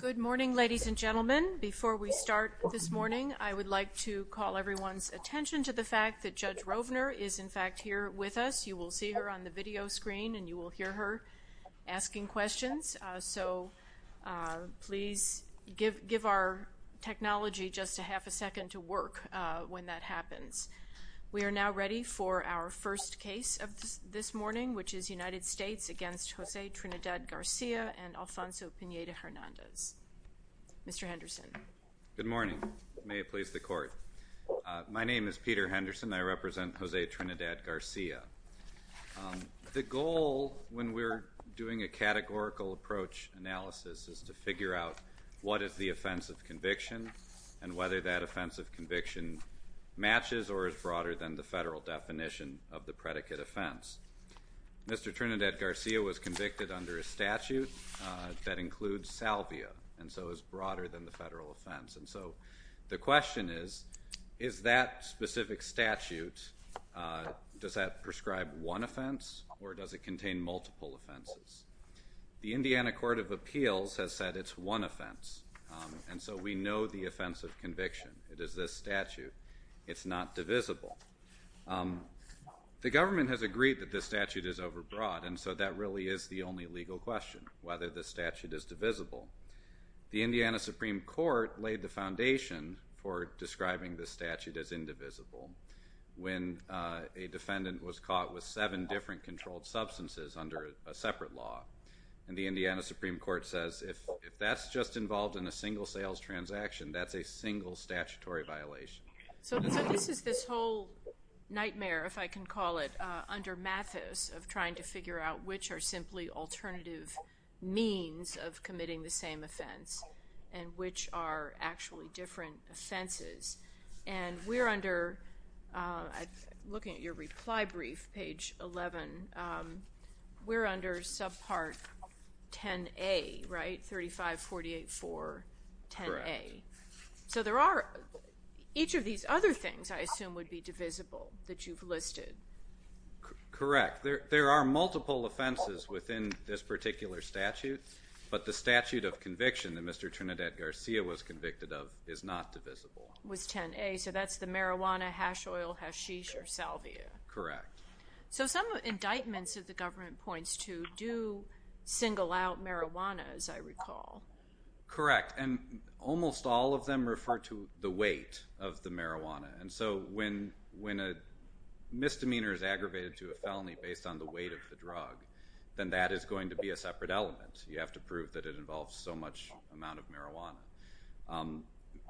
Good morning, ladies and gentlemen. Before we start this morning, I would like to call everyone's attention to the fact that Judge Rovner is in fact here with us. You will see her on the video screen and you will hear her asking questions. So please give our technology just a half a second to work when that happens. We are now ready for our first case of this morning, which is United States v. Jose Trinidad Garcia and Alfonso Pineda-Hernandez. Mr. Henderson. Good morning. May it please the Court. My name is Peter Henderson. I represent Jose Trinidad Garcia. The goal when we're doing a categorical approach analysis is to figure out what is the offense of conviction and whether that offense of conviction matches or is broader than the federal offense. Mr. Trinidad Garcia was convicted under a statute that includes salvia, and so is broader than the federal offense. And so the question is, is that specific statute, does that prescribe one offense or does it contain multiple offenses? The Indiana Court of Appeals has said it's one offense, and so we know the offense of conviction. It is a statute. It's not divisible. The government has agreed that this statute is overbroad, and so that really is the only legal question, whether the statute is divisible. The Indiana Supreme Court laid the foundation for describing the statute as indivisible when a defendant was caught with seven different controlled substances under a separate law. And the Indiana Supreme Court says if that's just involved in a single sales transaction, that's a single statutory violation. So this is this whole nightmare, if I can call it, under Mathis of trying to figure out which are simply alternative means of committing the same offense and which are actually different offenses. And we're under, looking at your reply brief, page 11, we're under subpart 10A, right? 3548-4, 10A. So there are, each of these other things I assume would be divisible that you've listed. Correct. There are multiple offenses within this particular statute, but the statute of conviction that Mr. Trinidad-Garcia was convicted of is not divisible. Was 10A, so that's the marijuana, hash oil, hashish, or salvia. Correct. So some indictments that the government points to do single out marijuana, as I recall. Correct. And almost all of them refer to the weight of the marijuana. And so when a misdemeanor is aggravated to a felony based on the weight of the drug, then that is going to be a separate element. You have to prove that it involves so much amount of marijuana.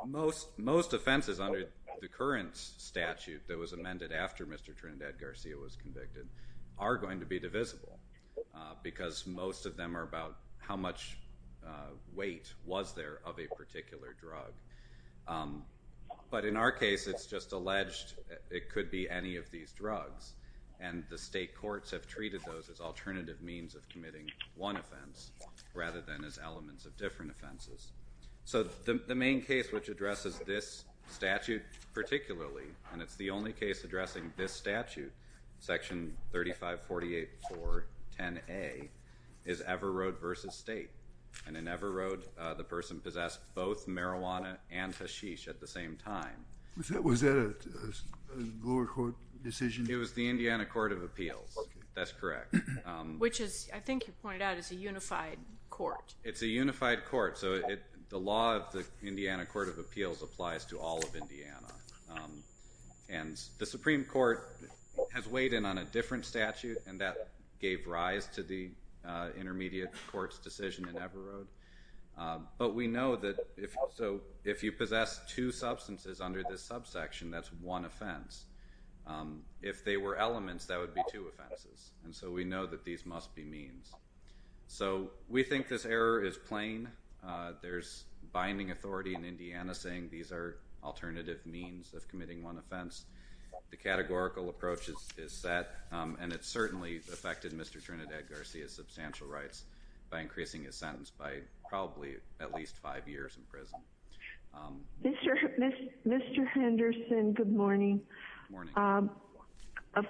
Most offenses under the current statute that was amended after Mr. Trinidad-Garcia was convicted are going to be divisible because most of them are about how much weight was there of a particular drug. But in our case, it's just alleged it could be any of these drugs. And the state courts have treated those as alternative means of committing one offense rather than as elements of different And it's the only case addressing this statute, section 3548.4.10A, is Everoad v. State. And in Everoad, the person possessed both marijuana and hashish at the same time. Was that a lower court decision? It was the Indiana Court of Appeals. That's correct. Which is, I think you pointed out, is a unified court. It's a unified court. So the law of the Indiana Court of Appeals applies to all of Indiana. And the Supreme Court has weighed in on a different statute, and that gave rise to the intermediate court's decision in Everoad. But we know that if you possess two substances under this subsection, that's one offense. If they were elements, that would be two offenses. And so we know that these must be means. So we think this error is plain. There's alternative means of committing one offense. The categorical approach is set, and it certainly affected Mr. Trinidad-Garcia's substantial rights by increasing his sentence by probably at least five years in prison. Mr. Henderson, good morning. Of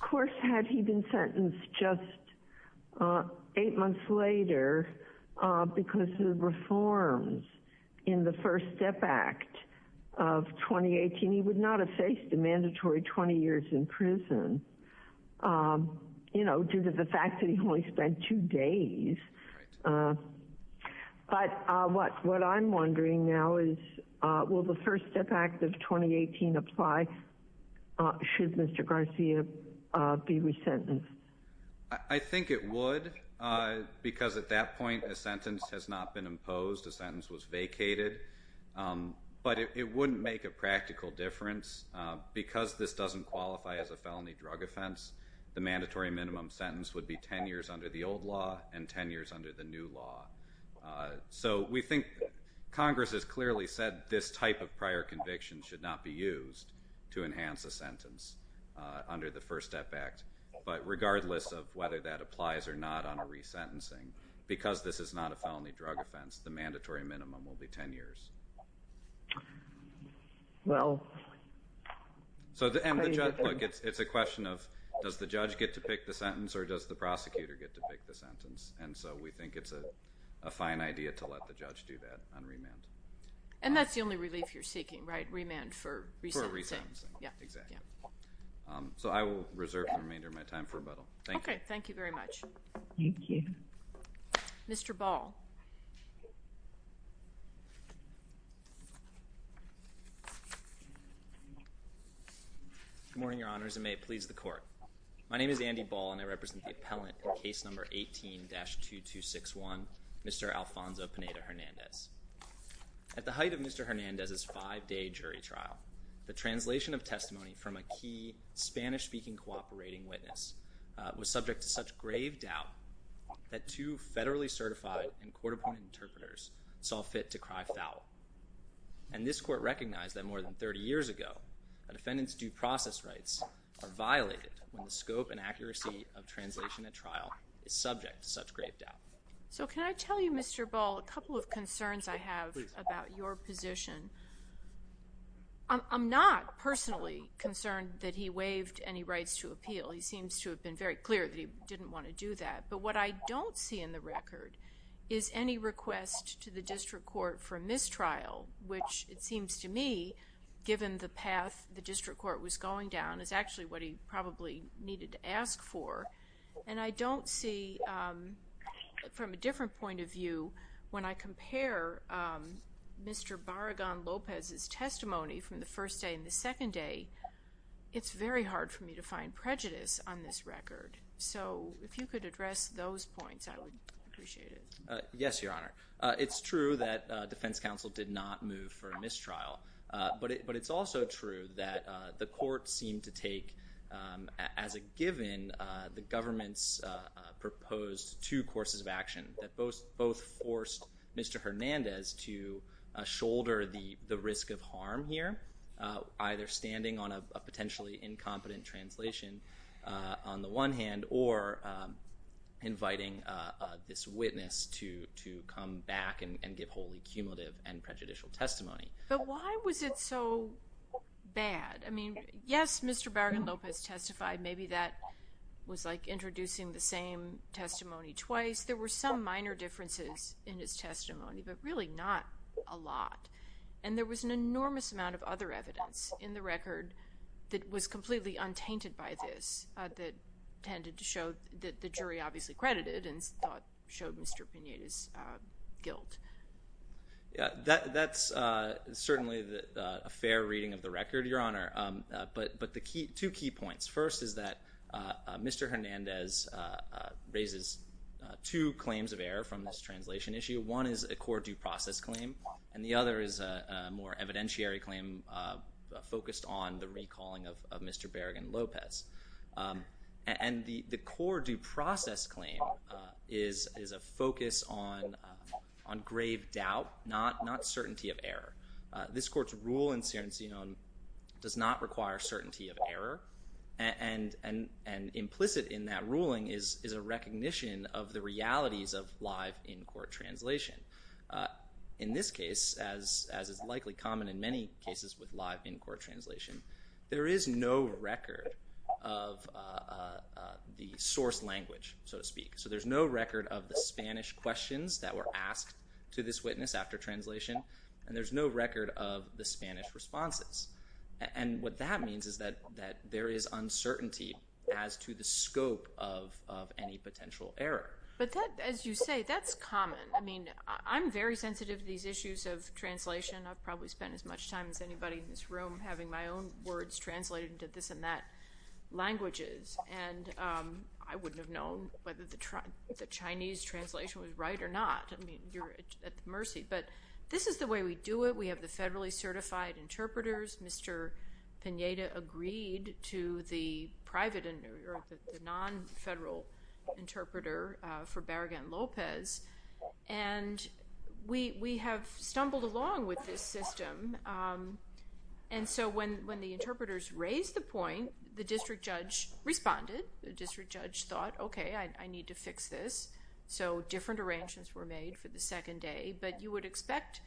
course, had he been sentenced just eight months later because of 2018, he would not have faced the mandatory 20 years in prison, you know, due to the fact that he only spent two days. But what I'm wondering now is, will the First Step Act of 2018 apply? Should Mr. Garcia be resentenced? I think it would, because at that point, a sentence has not been imposed. A sentence was imposed. It wouldn't make a practical difference. Because this doesn't qualify as a felony drug offense, the mandatory minimum sentence would be 10 years under the old law and 10 years under the new law. So we think Congress has clearly said this type of prior conviction should not be used to enhance a sentence under the First Step Act. But regardless of whether that applies or not on resentencing, because this is not a felony drug offense, the mandatory minimum will be 10 years. Well, so it's a question of, does the judge get to pick the sentence or does the prosecutor get to pick the sentence? And so we think it's a fine idea to let the judge do that on remand. And that's the only relief you're seeking, right? Remand for resentencing. Yeah, exactly. So I will reserve the remainder of my time for rebuttal. Okay, thank you very much. Mr. Ball. Good morning, Your Honors, and may it please the Court. My name is Andy Ball, and I represent the appellant in case number 18-2261, Mr. Alfonso Pineda-Hernandez. At the height of Mr. Hernandez's five-day jury trial, the translation of testimony from a key Spanish-speaking cooperating witness was subject to such grave doubt that two federally certified and court-appointed interpreters saw fit to cry foul. And this Court recognized that more than 30 years ago, a defendant's due process rights are violated when the scope and accuracy of translation at trial is subject to such grave doubt. So can I tell you, Mr. Ball, a couple of concerns I have about your position? I'm not personally concerned that he waived any rights to appeal. He seems to have been very clear that he didn't want to do that. But what I don't see in the record is any request to the District Court for a mistrial, which it seems to me, given the path the District Court was going down, is actually what he probably needed to ask for. And I don't see, from a different point of view, when I compare Mr. Barragan-Lopez's testimony from the first day and the second day, it's very hard for me to find prejudice on this case. If you could address those points, I would appreciate it. Yes, Your Honor. It's true that defense counsel did not move for a mistrial. But it's also true that the court seemed to take, as a given, the government's proposed two courses of action that both forced Mr. Hernandez to shoulder the risk of harm here, either standing on a potentially incompetent translation on the one hand, or inviting this witness to come back and give wholly cumulative and prejudicial testimony. But why was it so bad? I mean, yes, Mr. Barragan-Lopez testified. Maybe that was like introducing the same testimony twice. There were some minor differences in his testimony, but really not a lot. And there was an tendency to show that the jury obviously credited and showed Mr. Pineda's guilt. Yeah, that's certainly a fair reading of the record, Your Honor. But the two key points. First is that Mr. Hernandez raises two claims of error from this translation issue. One is a court due process claim, and the core due process claim is a focus on grave doubt, not certainty of error. This court's rule in Serencinon does not require certainty of error. And implicit in that ruling is a recognition of the realities of live in-court translation. In this case, as is likely common in many cases with live in-court translation, there is no record of the source language, so to speak. So there's no record of the Spanish questions that were asked to this witness after translation, and there's no record of the Spanish responses. And what that means is that there is uncertainty as to the scope of any potential error. But as you say, that's common. I mean, I'm very sensitive to these issues of translation. I've probably spent as much time as I can on words translated into this and that languages, and I wouldn't have known whether the Chinese translation was right or not. I mean, you're at the mercy. But this is the way we do it. We have the federally certified interpreters. Mr. Pineda agreed to the private or the non-federal interpreter for Barragán-López, and we When the interpreters raised the point, the district judge responded. The district judge thought, okay, I need to fix this. So different arrangements were made for the second day, but you would expect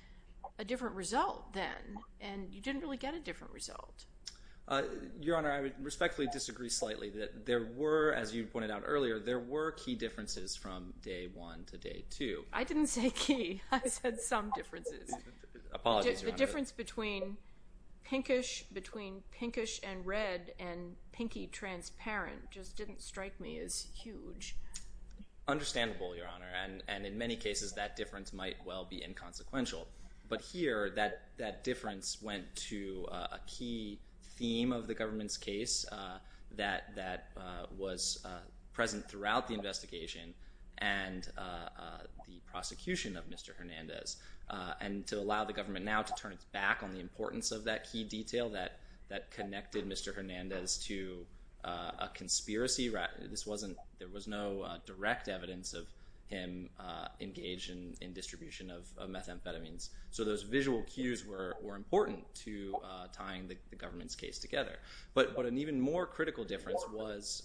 a different result then, and you didn't really get a different result. Your Honor, I would respectfully disagree slightly that there were, as you pointed out earlier, there were key differences from day one to day two. I didn't say key. I said some differences. Apologies, Your Honor. The difference between pinkish and red and pinky transparent just didn't strike me as huge. Understandable, Your Honor. And in many cases, that difference might well be inconsequential. But here, that difference went to a key theme of the government's case that was present throughout the investigation and the government's back on the importance of that key detail that connected Mr. Hernández to a conspiracy. This wasn't, there was no direct evidence of him engaged in distribution of methamphetamines. So those visual cues were important to tying the government's case together. But an even more critical difference was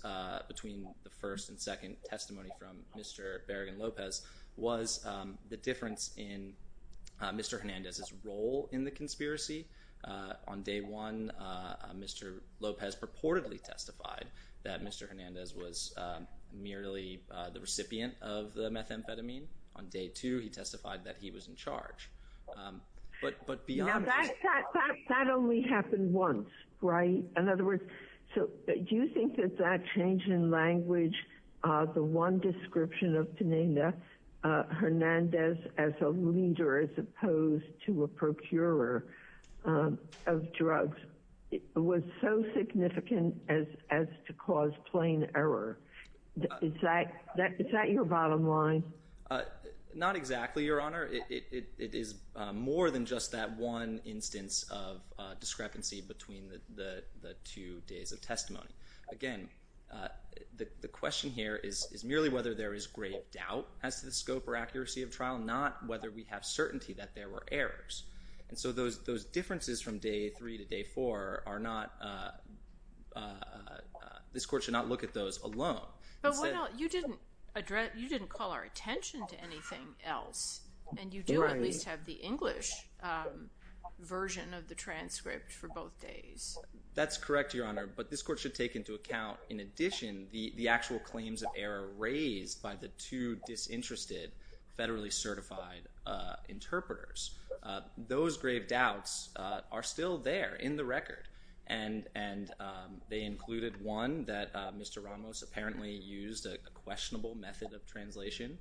between the first and second testimony from Mr. Barragán-López was the Mr. Hernández's role in the conspiracy. On day one, Mr. López purportedly testified that Mr. Hernández was merely the recipient of the methamphetamine. On day two, he testified that he was in charge. But beyond that, that only happened once, right? In other words, so do you think that that change in language, the one description of Teneda, Hernández as a proposed to a procurer of drugs, was so significant as to cause plain error? Is that your bottom line? Not exactly, Your Honor. It is more than just that one instance of discrepancy between the two days of testimony. Again, the question here is merely whether there is grave doubt as to the scope or accuracy of trial, not whether we have certainty that there were errors. And so those differences from day three to day four are not, this Court should not look at those alone. But why not, you didn't address, you didn't call our attention to anything else, and you do at least have the English version of the transcript for both days. That's correct, Your Honor, but this Court should take into account, in addition, the actual claims of error raised by the two disinterested, federally certified interpreters. Those grave doubts are still there in the record, and they included, one, that Mr. Ramos apparently used a questionable method of translation.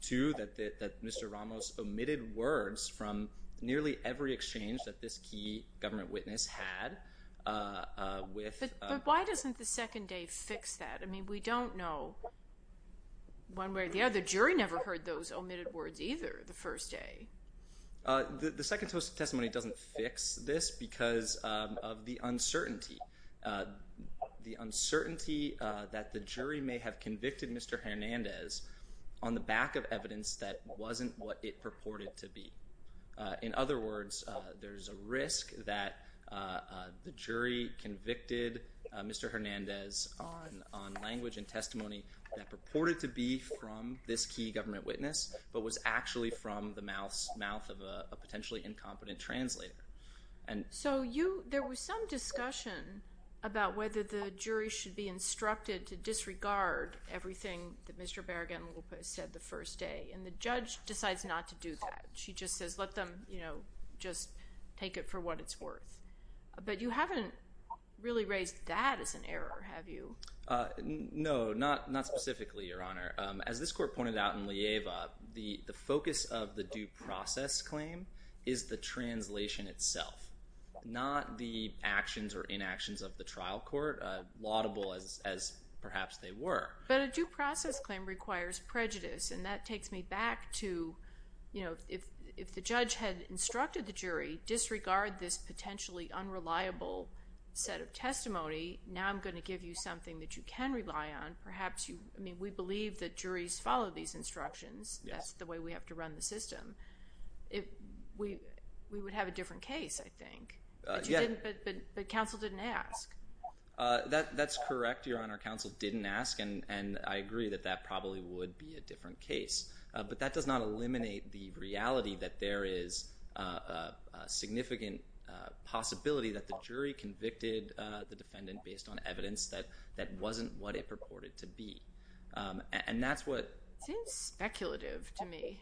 Two, that Mr. Ramos omitted words from nearly every exchange that this key government witness had with... I haven't heard those omitted words either the first day. The second testimony doesn't fix this because of the uncertainty. The uncertainty that the jury may have convicted Mr. Hernandez on the back of evidence that wasn't what it purported to be. In other words, there's a risk that the jury convicted Mr. Hernandez on language and testimony that purported to be from this key government witness, but was actually from the mouth of a potentially incompetent translator. So you, there was some discussion about whether the jury should be instructed to disregard everything that Mr. Barragán-López said the first day, and the judge decides not to do that. She just says, let them, you know, just take it for what it's worth. But you haven't really raised that as an error, have you? No, not specifically, Your Honor. As this court pointed out in LIEVA, the focus of the due process claim is the translation itself, not the actions or inactions of the trial court, laudable as perhaps they were. But a due process claim requires prejudice, and that takes me back to, you know, if the judge had instructed the jury, disregard this potentially unreliable set of testimony. Now I'm going to give you something that you can rely on. Perhaps you, I mean, we believe that juries follow these instructions. That's the way we have to run the system. If we, we would have a different case, I think. But you didn't, but counsel didn't ask. That's correct, Your Honor. Counsel didn't ask, and I agree that that probably would be a different case. But that does not eliminate the reality that there is a significant possibility that the jury convicted the defendant based on evidence that that wasn't what it purported to be. And that's what— Seems speculative to me.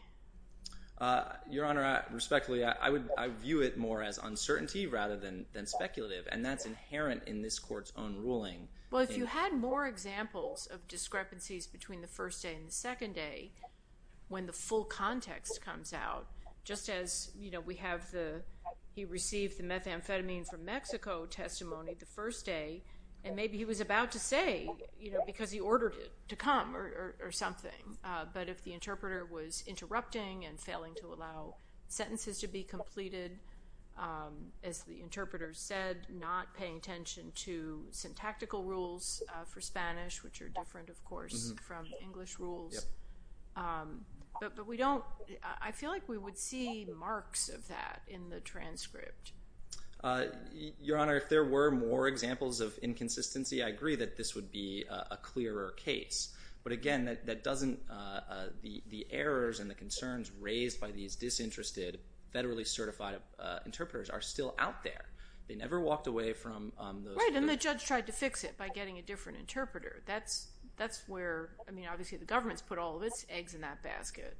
Your Honor, respectfully, I would view it more as uncertainty rather than speculative. And that's inherent in this court's own ruling. Well, if you had more examples of discrepancies between the first day and the second day, when the full context comes out, just as, you know, we have the, he received the methamphetamine from Mexico testimony the first day, and maybe he was about to say, you know, because he ordered it to come or something. But if the interpreter was interrupting and failing to allow sentences to be completed, as the interpreter said, not paying attention to syntactical rules for Spanish, which are different, of course, from English rules. But we don't, I feel like we would see marks of that in the transcript. Your Honor, if there were more examples of inconsistency, I agree that this would be a clearer case. But again, that doesn't—the errors and the concerns raised by these disinterested, federally certified interpreters are still out there. They never walked away from those— Right, and the judge tried to fix it by getting a different interpreter. That's where, I mean, obviously the government's put all of its eggs in that basket.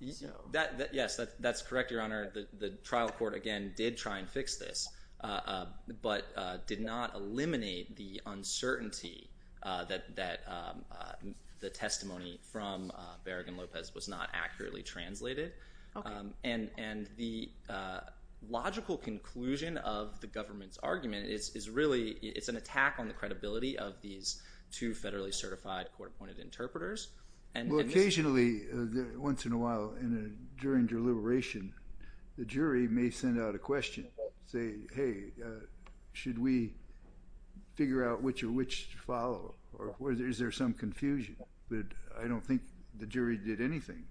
Yes, that's correct, Your Honor. The trial court, again, did try and fix this, but did not eliminate the uncertainty that the testimony from Berrigan-Lopez was not accurately translated. And the logical conclusion of the government's argument is really, it's an attack on the credibility of these two federally certified court-appointed interpreters. Well, occasionally, once in a while, during deliberation, the jury may send out a question, say, hey, should we figure out which of which to follow? Or is there some confusion? But I don't think the jury did anything.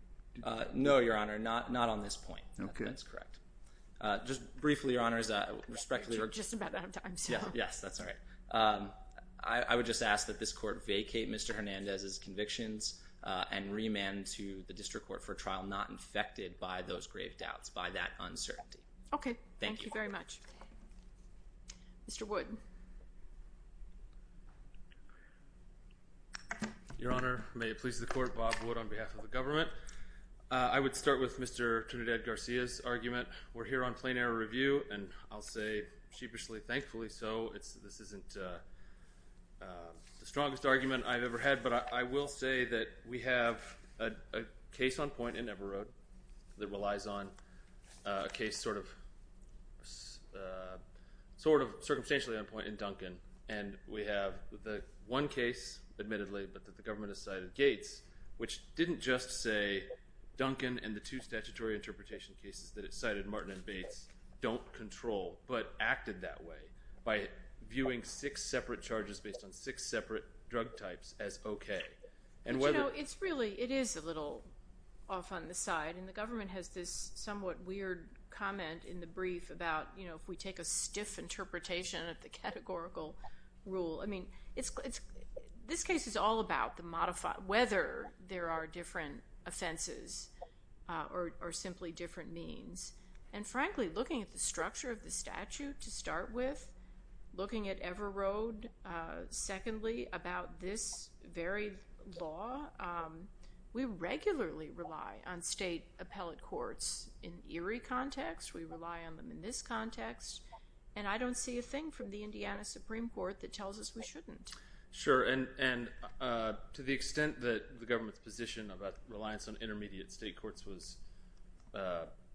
No, Your Honor, not on this point. That's correct. Just briefly, Your Honors, respectfully— We're just about out of time, so— Yes, that's all right. I would just ask that this court vacate Mr. Hernandez's convictions and remand him to the district court for trial, not infected by those grave doubts, by that uncertainty. Okay. Thank you. Thank you very much. Mr. Wood. Your Honor, may it please the court, Bob Wood on behalf of the government. We're here on plain error review, and I'll say sheepishly, thankfully so. This isn't the strongest argument I've ever had, but I will say that we have a case on point in Everoad that relies on a case sort of circumstantially on point in Duncan. And we have the one case, admittedly, but that the government has cited Gates, which didn't just say Duncan and the two statutory interpretation cases that it cited, Martin and Bates, don't control, but acted that way by viewing six separate charges based on six separate drug types as okay. And whether— You know, it's really—it is a little off on the side. And the government has this somewhat weird comment in the brief about, you know, if we take a stiff interpretation of the categorical rule. I mean, it's—this case is all about the modified—whether there are different offenses or simply different means. And frankly, looking at the structure of the statute to start with, looking at Everoad, secondly, about this very law, we regularly rely on state appellate courts in Erie context, we rely on them in this context, and I don't see a thing from the Indiana Supreme Court that tells us we shouldn't. Sure. And to the extent that the government's position about reliance on intermediate state courts was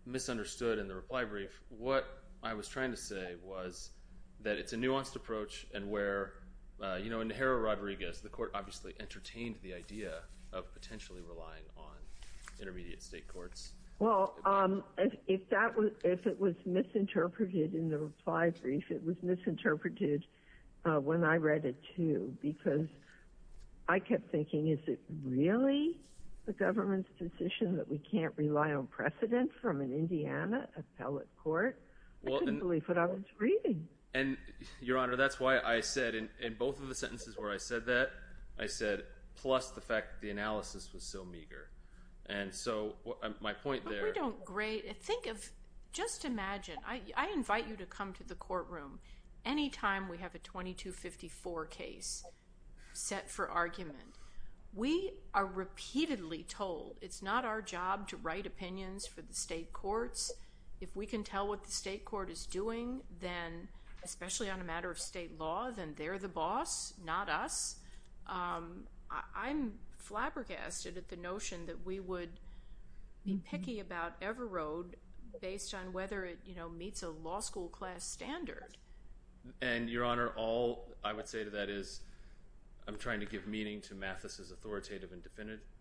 misunderstood in the reply brief, what I was trying to say was that it's a nuanced approach and where, you know, in Jara-Rodriguez, the court obviously entertained the idea of potentially relying on intermediate state courts. Well, if that was—if it was misinterpreted in the reply brief, it was misinterpreted when I read it, too, because I kept thinking, is it really the government's position that we can't rely on precedent from an Indiana appellate court? I couldn't believe what I was reading. And, Your Honor, that's why I said in both of the sentences where I said that, I said, plus the fact that the analysis was so meager. And so my point there— But we don't—think of—just imagine, I invite you to come to the courtroom any time we have a 2254 case set for argument. We are repeatedly told it's not our job to write opinions for the state courts. If we can tell what the state court is doing, then—especially on a matter of state law—then they're the boss, not us. I'm flabbergasted at the notion that we would be picky about Everode based on whether it, you know, meets a law school class standard. And, Your Honor, all I would say to that is I'm trying to give meaning to Mathis's authoritative and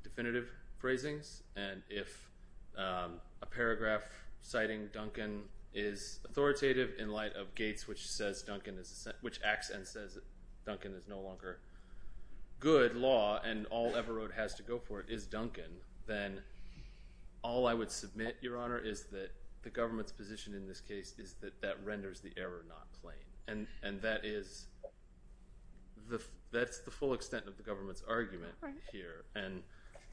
definitive phrasings. And if a paragraph citing Duncan is authoritative in light of Gates, which says Duncan is—which acts and says Duncan is no longer good law, and all Everode has to go for it is Duncan, then all I would submit, Your Honor, is that the government's position in this case is that that renders the error not plain. And that is—that's the full extent of the government's argument here. And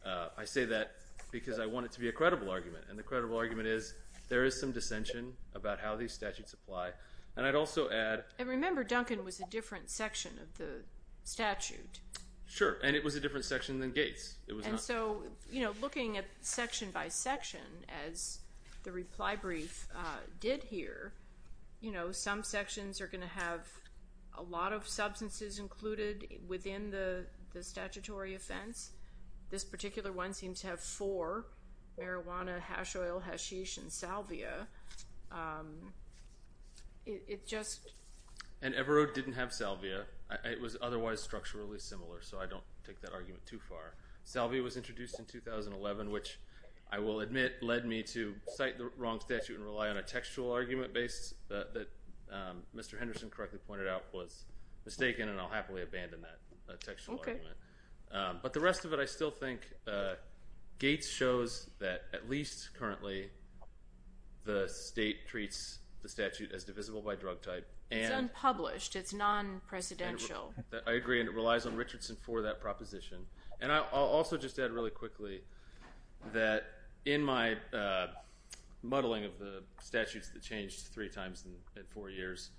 I say that because I want it to be a credible argument. And the credible argument is there is some dissension about how these statutes apply. And I'd also add— And remember, Duncan was a different section of the statute. Sure. And it was a different section than Gates. And so, you know, looking at section by section, as the reply brief did here, you know, some sections are going to have a lot of substances included within the statutory offense. This particular one seems to have four—marijuana, hash oil, hashish, and salvia. It just— And Everode didn't have salvia. It was otherwise structurally similar. So I don't take that argument too far. Salvia was introduced in 2011, which I will admit led me to cite the wrong statute and rely on a textual argument base that Mr. Henderson correctly pointed out was mistaken. And I'll happily abandon that textual argument. But the rest of it, I still think, Gates shows that at least currently the state treats the statute as divisible by drug type and— It's unpublished. It's non-presidential. I agree. And it relies on Richardson for that proposition. And I'll also just add really quickly that in my muddling of the statutes that changed three times in four years,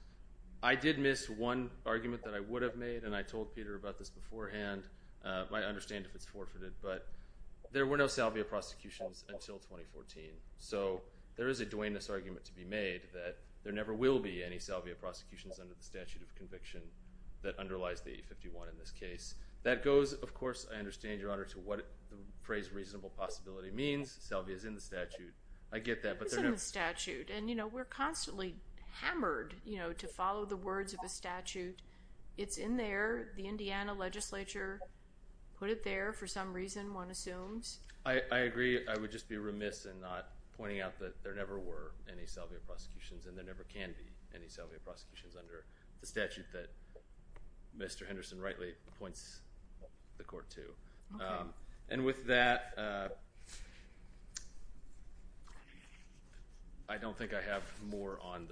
I did miss one argument that I would have made, and I told Peter about this beforehand. You might understand if it's forfeited, but there were no salvia prosecutions until 2014. So there is a Duane Ness argument to be made that there never will be any salvia prosecutions under the statute of conviction that underlies the 851 in this case. That goes, of course, I understand, Your Honor, to what the phrase reasonable possibility means. Salvia is in the statute. I get that, but there never— It is in the statute. And, you know, we're constantly hammered, you know, to follow the words of the statute. It's in there. The Indiana legislature put it there for some reason, one assumes. I agree. I would just be remiss in not pointing out that there never were any salvia prosecutions, and there never can be any salvia prosecutions under the statute that Mr. Henderson rightly points the court to. And with that, I don't think I have more on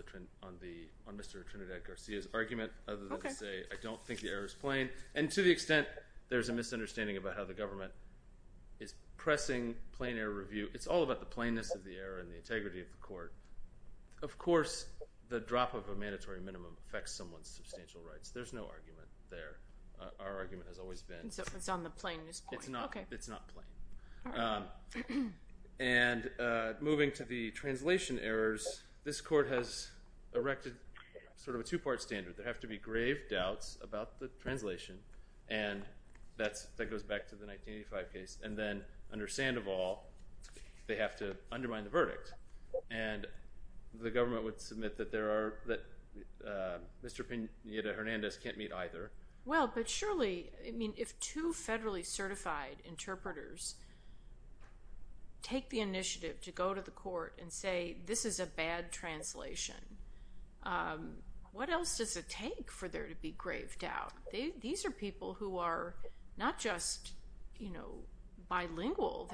Mr. Trinidad-Garcia's argument, other than to say I don't think the error is plain. And to the extent there's a misunderstanding about how the government is pressing plain error review, it's all about the plainness of the error and the integrity of the court. Of course, the drop of a mandatory minimum affects someone's substantial rights. There's no argument there. Our argument has always been— And so it's on the plainness point. It's not plain. And moving to the translation errors, this court has erected sort of a two-part standard. There have to be grave doubts about the translation, and that goes back to the 1985 case. And then, under Sandoval, they have to undermine the verdict. And the government would submit that Mr. Pineda-Hernandez can't meet either. Well, but surely, I mean, if two federally certified interpreters take the initiative to go to the court and say, this is a bad translation, what else does it take for there to be grave doubt? These are people who are not just, you know, bilingual.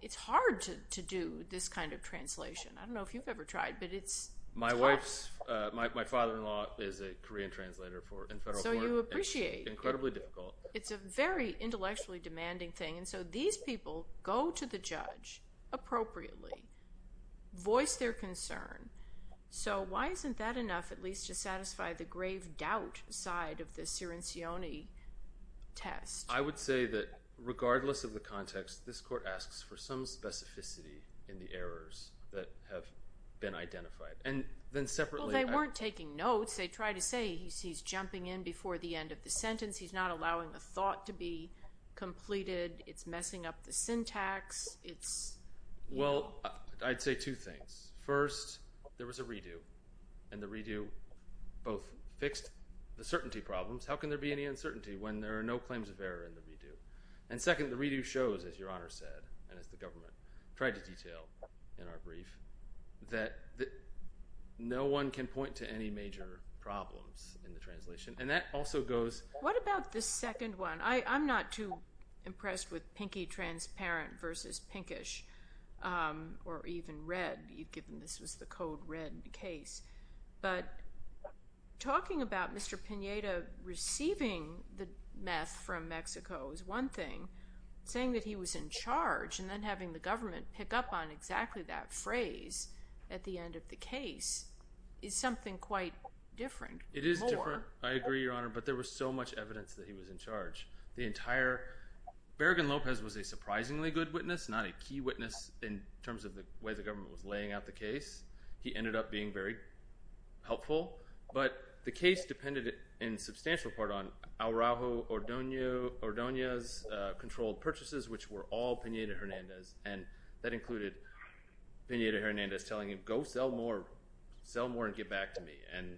It's hard to do this kind of translation. I don't know if you've ever tried, but it's hard. My wife's—my father-in-law is a Korean translator in federal court. So you appreciate it. Incredibly difficult. It's a very intellectually demanding thing. And so these people go to the judge appropriately, voice their concern. So why isn't that enough, at least, to satisfy the grave doubt side of the Cirincione test? I would say that, regardless of the context, this court asks for some specificity in the errors that have been identified. And then, separately— Well, they weren't taking notes. They tried to say, he's jumping in before the end of the sentence. He's not allowing the thought to be completed. It's messing up the syntax. It's— Well, I'd say two things. First, there was a redo, and the redo both fixed the certainty problems. How can there be any uncertainty when there are no claims of error in the redo? And second, the redo shows, as Your Honor said, and as the government tried to detail in our brief, that no one can point to any major problems in the translation. And that also goes— What about the second one? I'm not too impressed with pinky transparent versus pinkish, or even red, given this was the code red case. But talking about Mr. Pineda receiving the meth from Mexico is one thing. Saying that he was in charge, and then having the government pick up on exactly that phrase at the end of the case is something quite different. It is different, I agree, Your Honor, but there was so much evidence that he was in charge. The entire—Bergen-Lopez was a surprisingly good witness, not a key witness in terms of the way the government was laying out the case. He ended up being very helpful, but the case depended in substantial part on Araujo Ordonez's controlled purchases, which were all Pineda-Hernandez. And that included Pineda-Hernandez telling him, go sell more, sell more and get back to me. And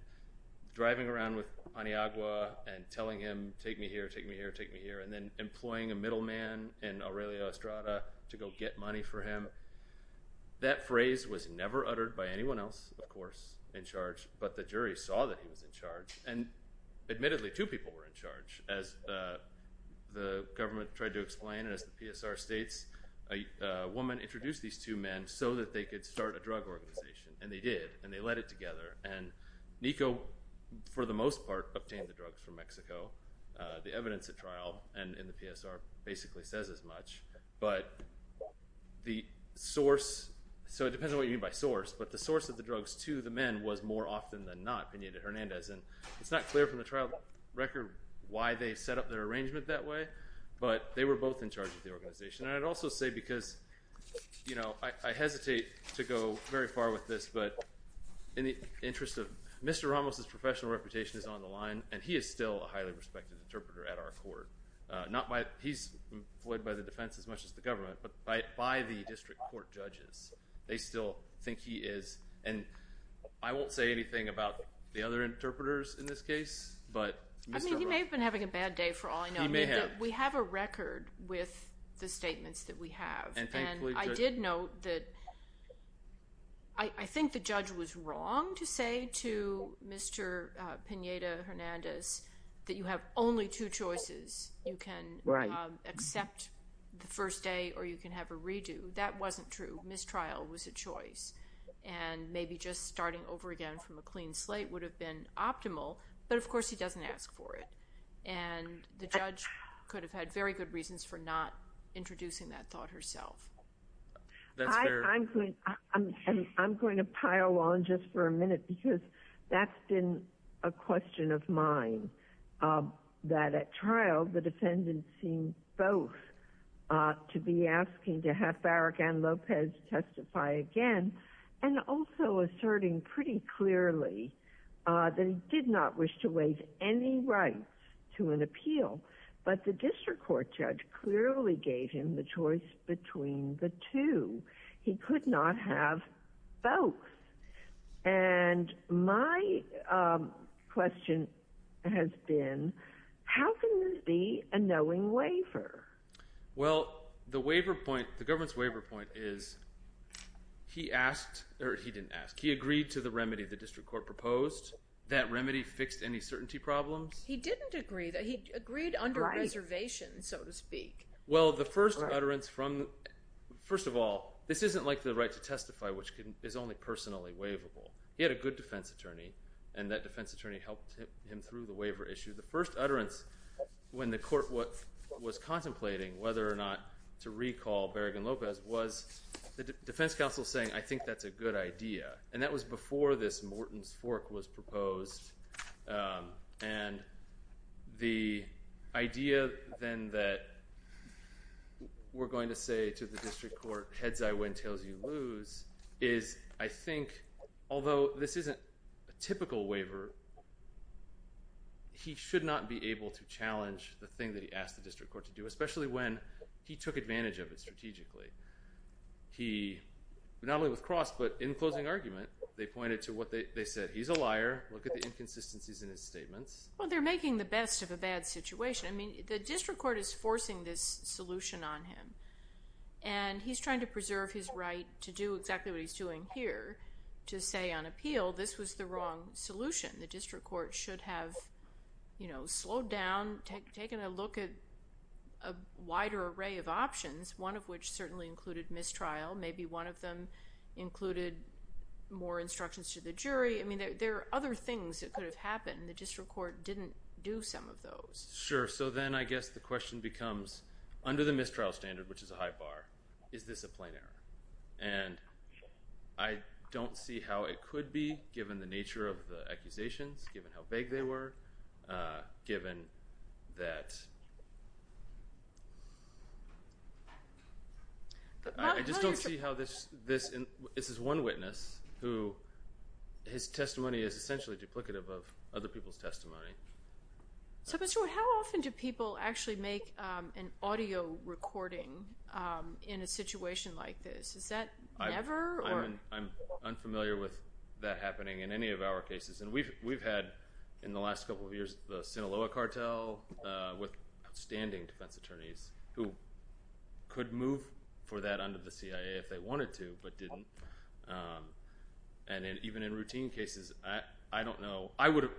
driving around with Paniagua and telling him, take me here, take me here, take me here. And then employing a middleman in Aurelio Estrada to go get money for him. That phrase was never uttered by anyone else, of course, in charge, but the jury saw that he was in charge. And admittedly, two people were in charge, as the government tried to explain and as the PSR states, a woman introduced these two men so that they could start a drug organization. And they did, and they led it together. And Nico, for the most part, obtained the drugs from Mexico. The evidence at trial and in the PSR basically says as much. But the source, so it depends on what you mean by source, but the source of the drugs to the men was more often than not Pineda-Hernandez. And it's not clear from the trial record why they set up their arrangement that way, but they were both in charge of the organization. And I'd also say because, you know, I hesitate to go very far with this, but in the interest of, Mr. Ramos' professional reputation is on the line, and he is still a highly respected interpreter at our court. Not by, he's employed by the defense as much as the government, but by the district court judges. They still think he is. And I won't say anything about the other interpreters in this case, but Mr. Ramos. I mean, he may have been having a bad day for all I know. He may have. We have a record with the statements that we have. And I did note that I think the judge was wrong to say to Mr. Pineda-Hernandez that you have only two choices. You can accept the first day, or you can have a redo. That wasn't true. Mistrial was a choice. And maybe just starting over again from a clean slate would have been optimal, but of course he doesn't ask for it. And the judge could have had very good reasons for not introducing that thought herself. I'm going to pile on just for a minute because that's been a question of mine. That at trial, the defendant seemed both to be asking to have Barragan-Lopez testify again and also asserting pretty clearly that he did not wish to waive any rights to an appeal. But the district court judge clearly gave him the choice between the two. He could not have both. And my question has been, how can this be a knowing waiver? Well, the waiver point, the government's waiver point is he asked, or he didn't ask. He agreed to the remedy the district court proposed. That remedy fixed any certainty problems. He didn't agree. He agreed under reservation, so to speak. Well, the first utterance from, first of all, this isn't like the right to testify, which is only personally waivable. He had a good defense attorney, and that defense attorney helped him through the waiver issue. The first utterance when the court was contemplating whether or not to recall Barragan-Lopez was the defense counsel saying, I think that's a good idea. And that was before this Morton's Fork was proposed, and the idea then that we're going to say to the district court, heads I win, tails you lose, is I think, although this isn't a typical waiver, he should not be able to challenge the thing that he asked the district court to do, especially when he took advantage of it strategically. He, not only with Cross, but in closing argument, they pointed to what they said, he's a liar, look at the inconsistencies in his statements. Well, they're making the best of a bad situation. I mean, the district court is forcing this solution on him, and he's trying to preserve his right to do exactly what he's doing here, to say on appeal this was the wrong solution. The district court should have, you know, slowed down, taken a look at a wider array of options, one of which certainly included mistrial, maybe one of them included more instructions to the jury. I mean, there are other things that could have happened. The district court didn't do some of those. Sure. So then I guess the question becomes, under the mistrial standard, which is a high bar, is this a plain error? And I don't see how it could be, given the nature of the accusations, given how vague they were, given that... I just don't see how this is one witness who his testimony is essentially duplicative of other people's testimony. So how often do people actually make an audio recording in a situation like this? Is that never? I'm unfamiliar with that happening in any of our cases. And we've had, in the last couple of years, the Sinaloa cartel with outstanding defense attorneys who could move for that under the CIA if they wanted to, but didn't. And even in routine cases, I don't know. I would have,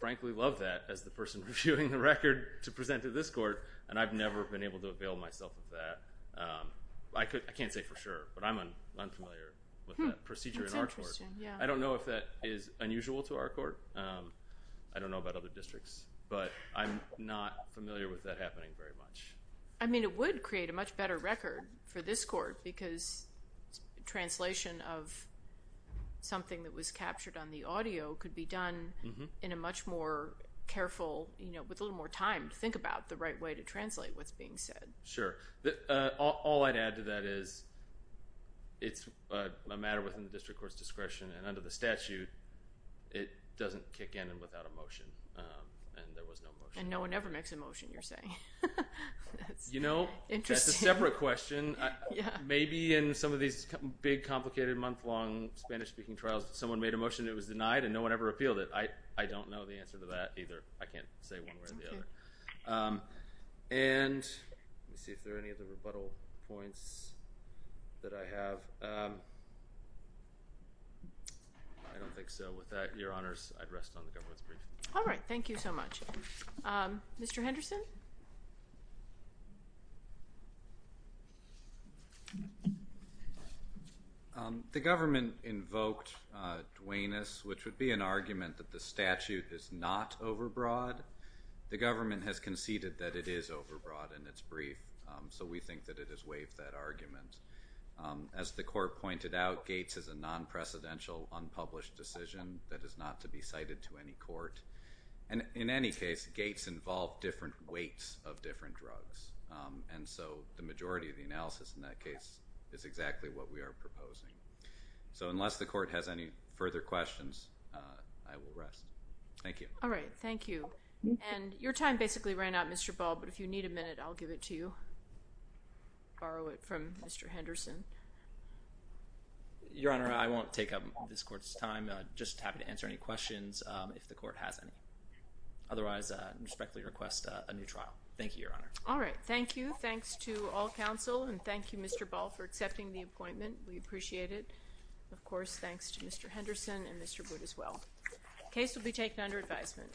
frankly, loved that as the person reviewing the record to present to this court, and I've never been able to avail myself of that. I can't say for sure, but I'm unfamiliar with that procedure in our court. I don't know if that is unusual to our court. I don't know about other districts, but I'm not familiar with that happening very much. I mean, it would create a much better record for this court, because translation of something that was captured on the audio could be done in a much more careful, you know, with a little more time to think about the right way to translate what's being said. And I think that's a separate question. And under the statute, it doesn't kick in without a motion. And there was no motion. And no one ever makes a motion, you're saying. You know, that's a separate question. Maybe in some of these big, complicated, month-long Spanish-speaking trials, someone made a motion that was denied, and no one ever appealed it. I don't know the answer to that either. I can't say one way or the other. And let me see if there are any other rebuttal points that I have. I don't think so. With that, Your Honors, I'd rest on the government's brief. All right. Thank you so much. Mr. Henderson? The government invoked Dwaynus, which would be an argument that the statute is not overbroad. The government has conceded that it is overbroad in its brief. So we think that it has waived that argument. As the Court pointed out, Gates is a non-precedential, unpublished decision that is not to be cited to any court. And in any case, Gates involved different weights of different drugs. And so the majority of the analysis in that case is exactly what we are proposing. So unless the Court has any further questions, I will rest. Thank you. All right. Thank you. And your time basically ran out, Mr. Ball, but if you need a minute, I'll give it to you. Borrow it from Mr. Henderson. Your Honor, I won't take up this Court's time. Just happy to answer any questions if the Court has any. Otherwise, I respectfully request a new trial. Thank you, Your Honor. All right. Thank you. Thanks to all counsel. And thank you, Mr. Ball, for accepting the appointment. We appreciate it. Of course, thanks to Mr. Henderson and Mr. Wood as well. Case will be taken under advisement.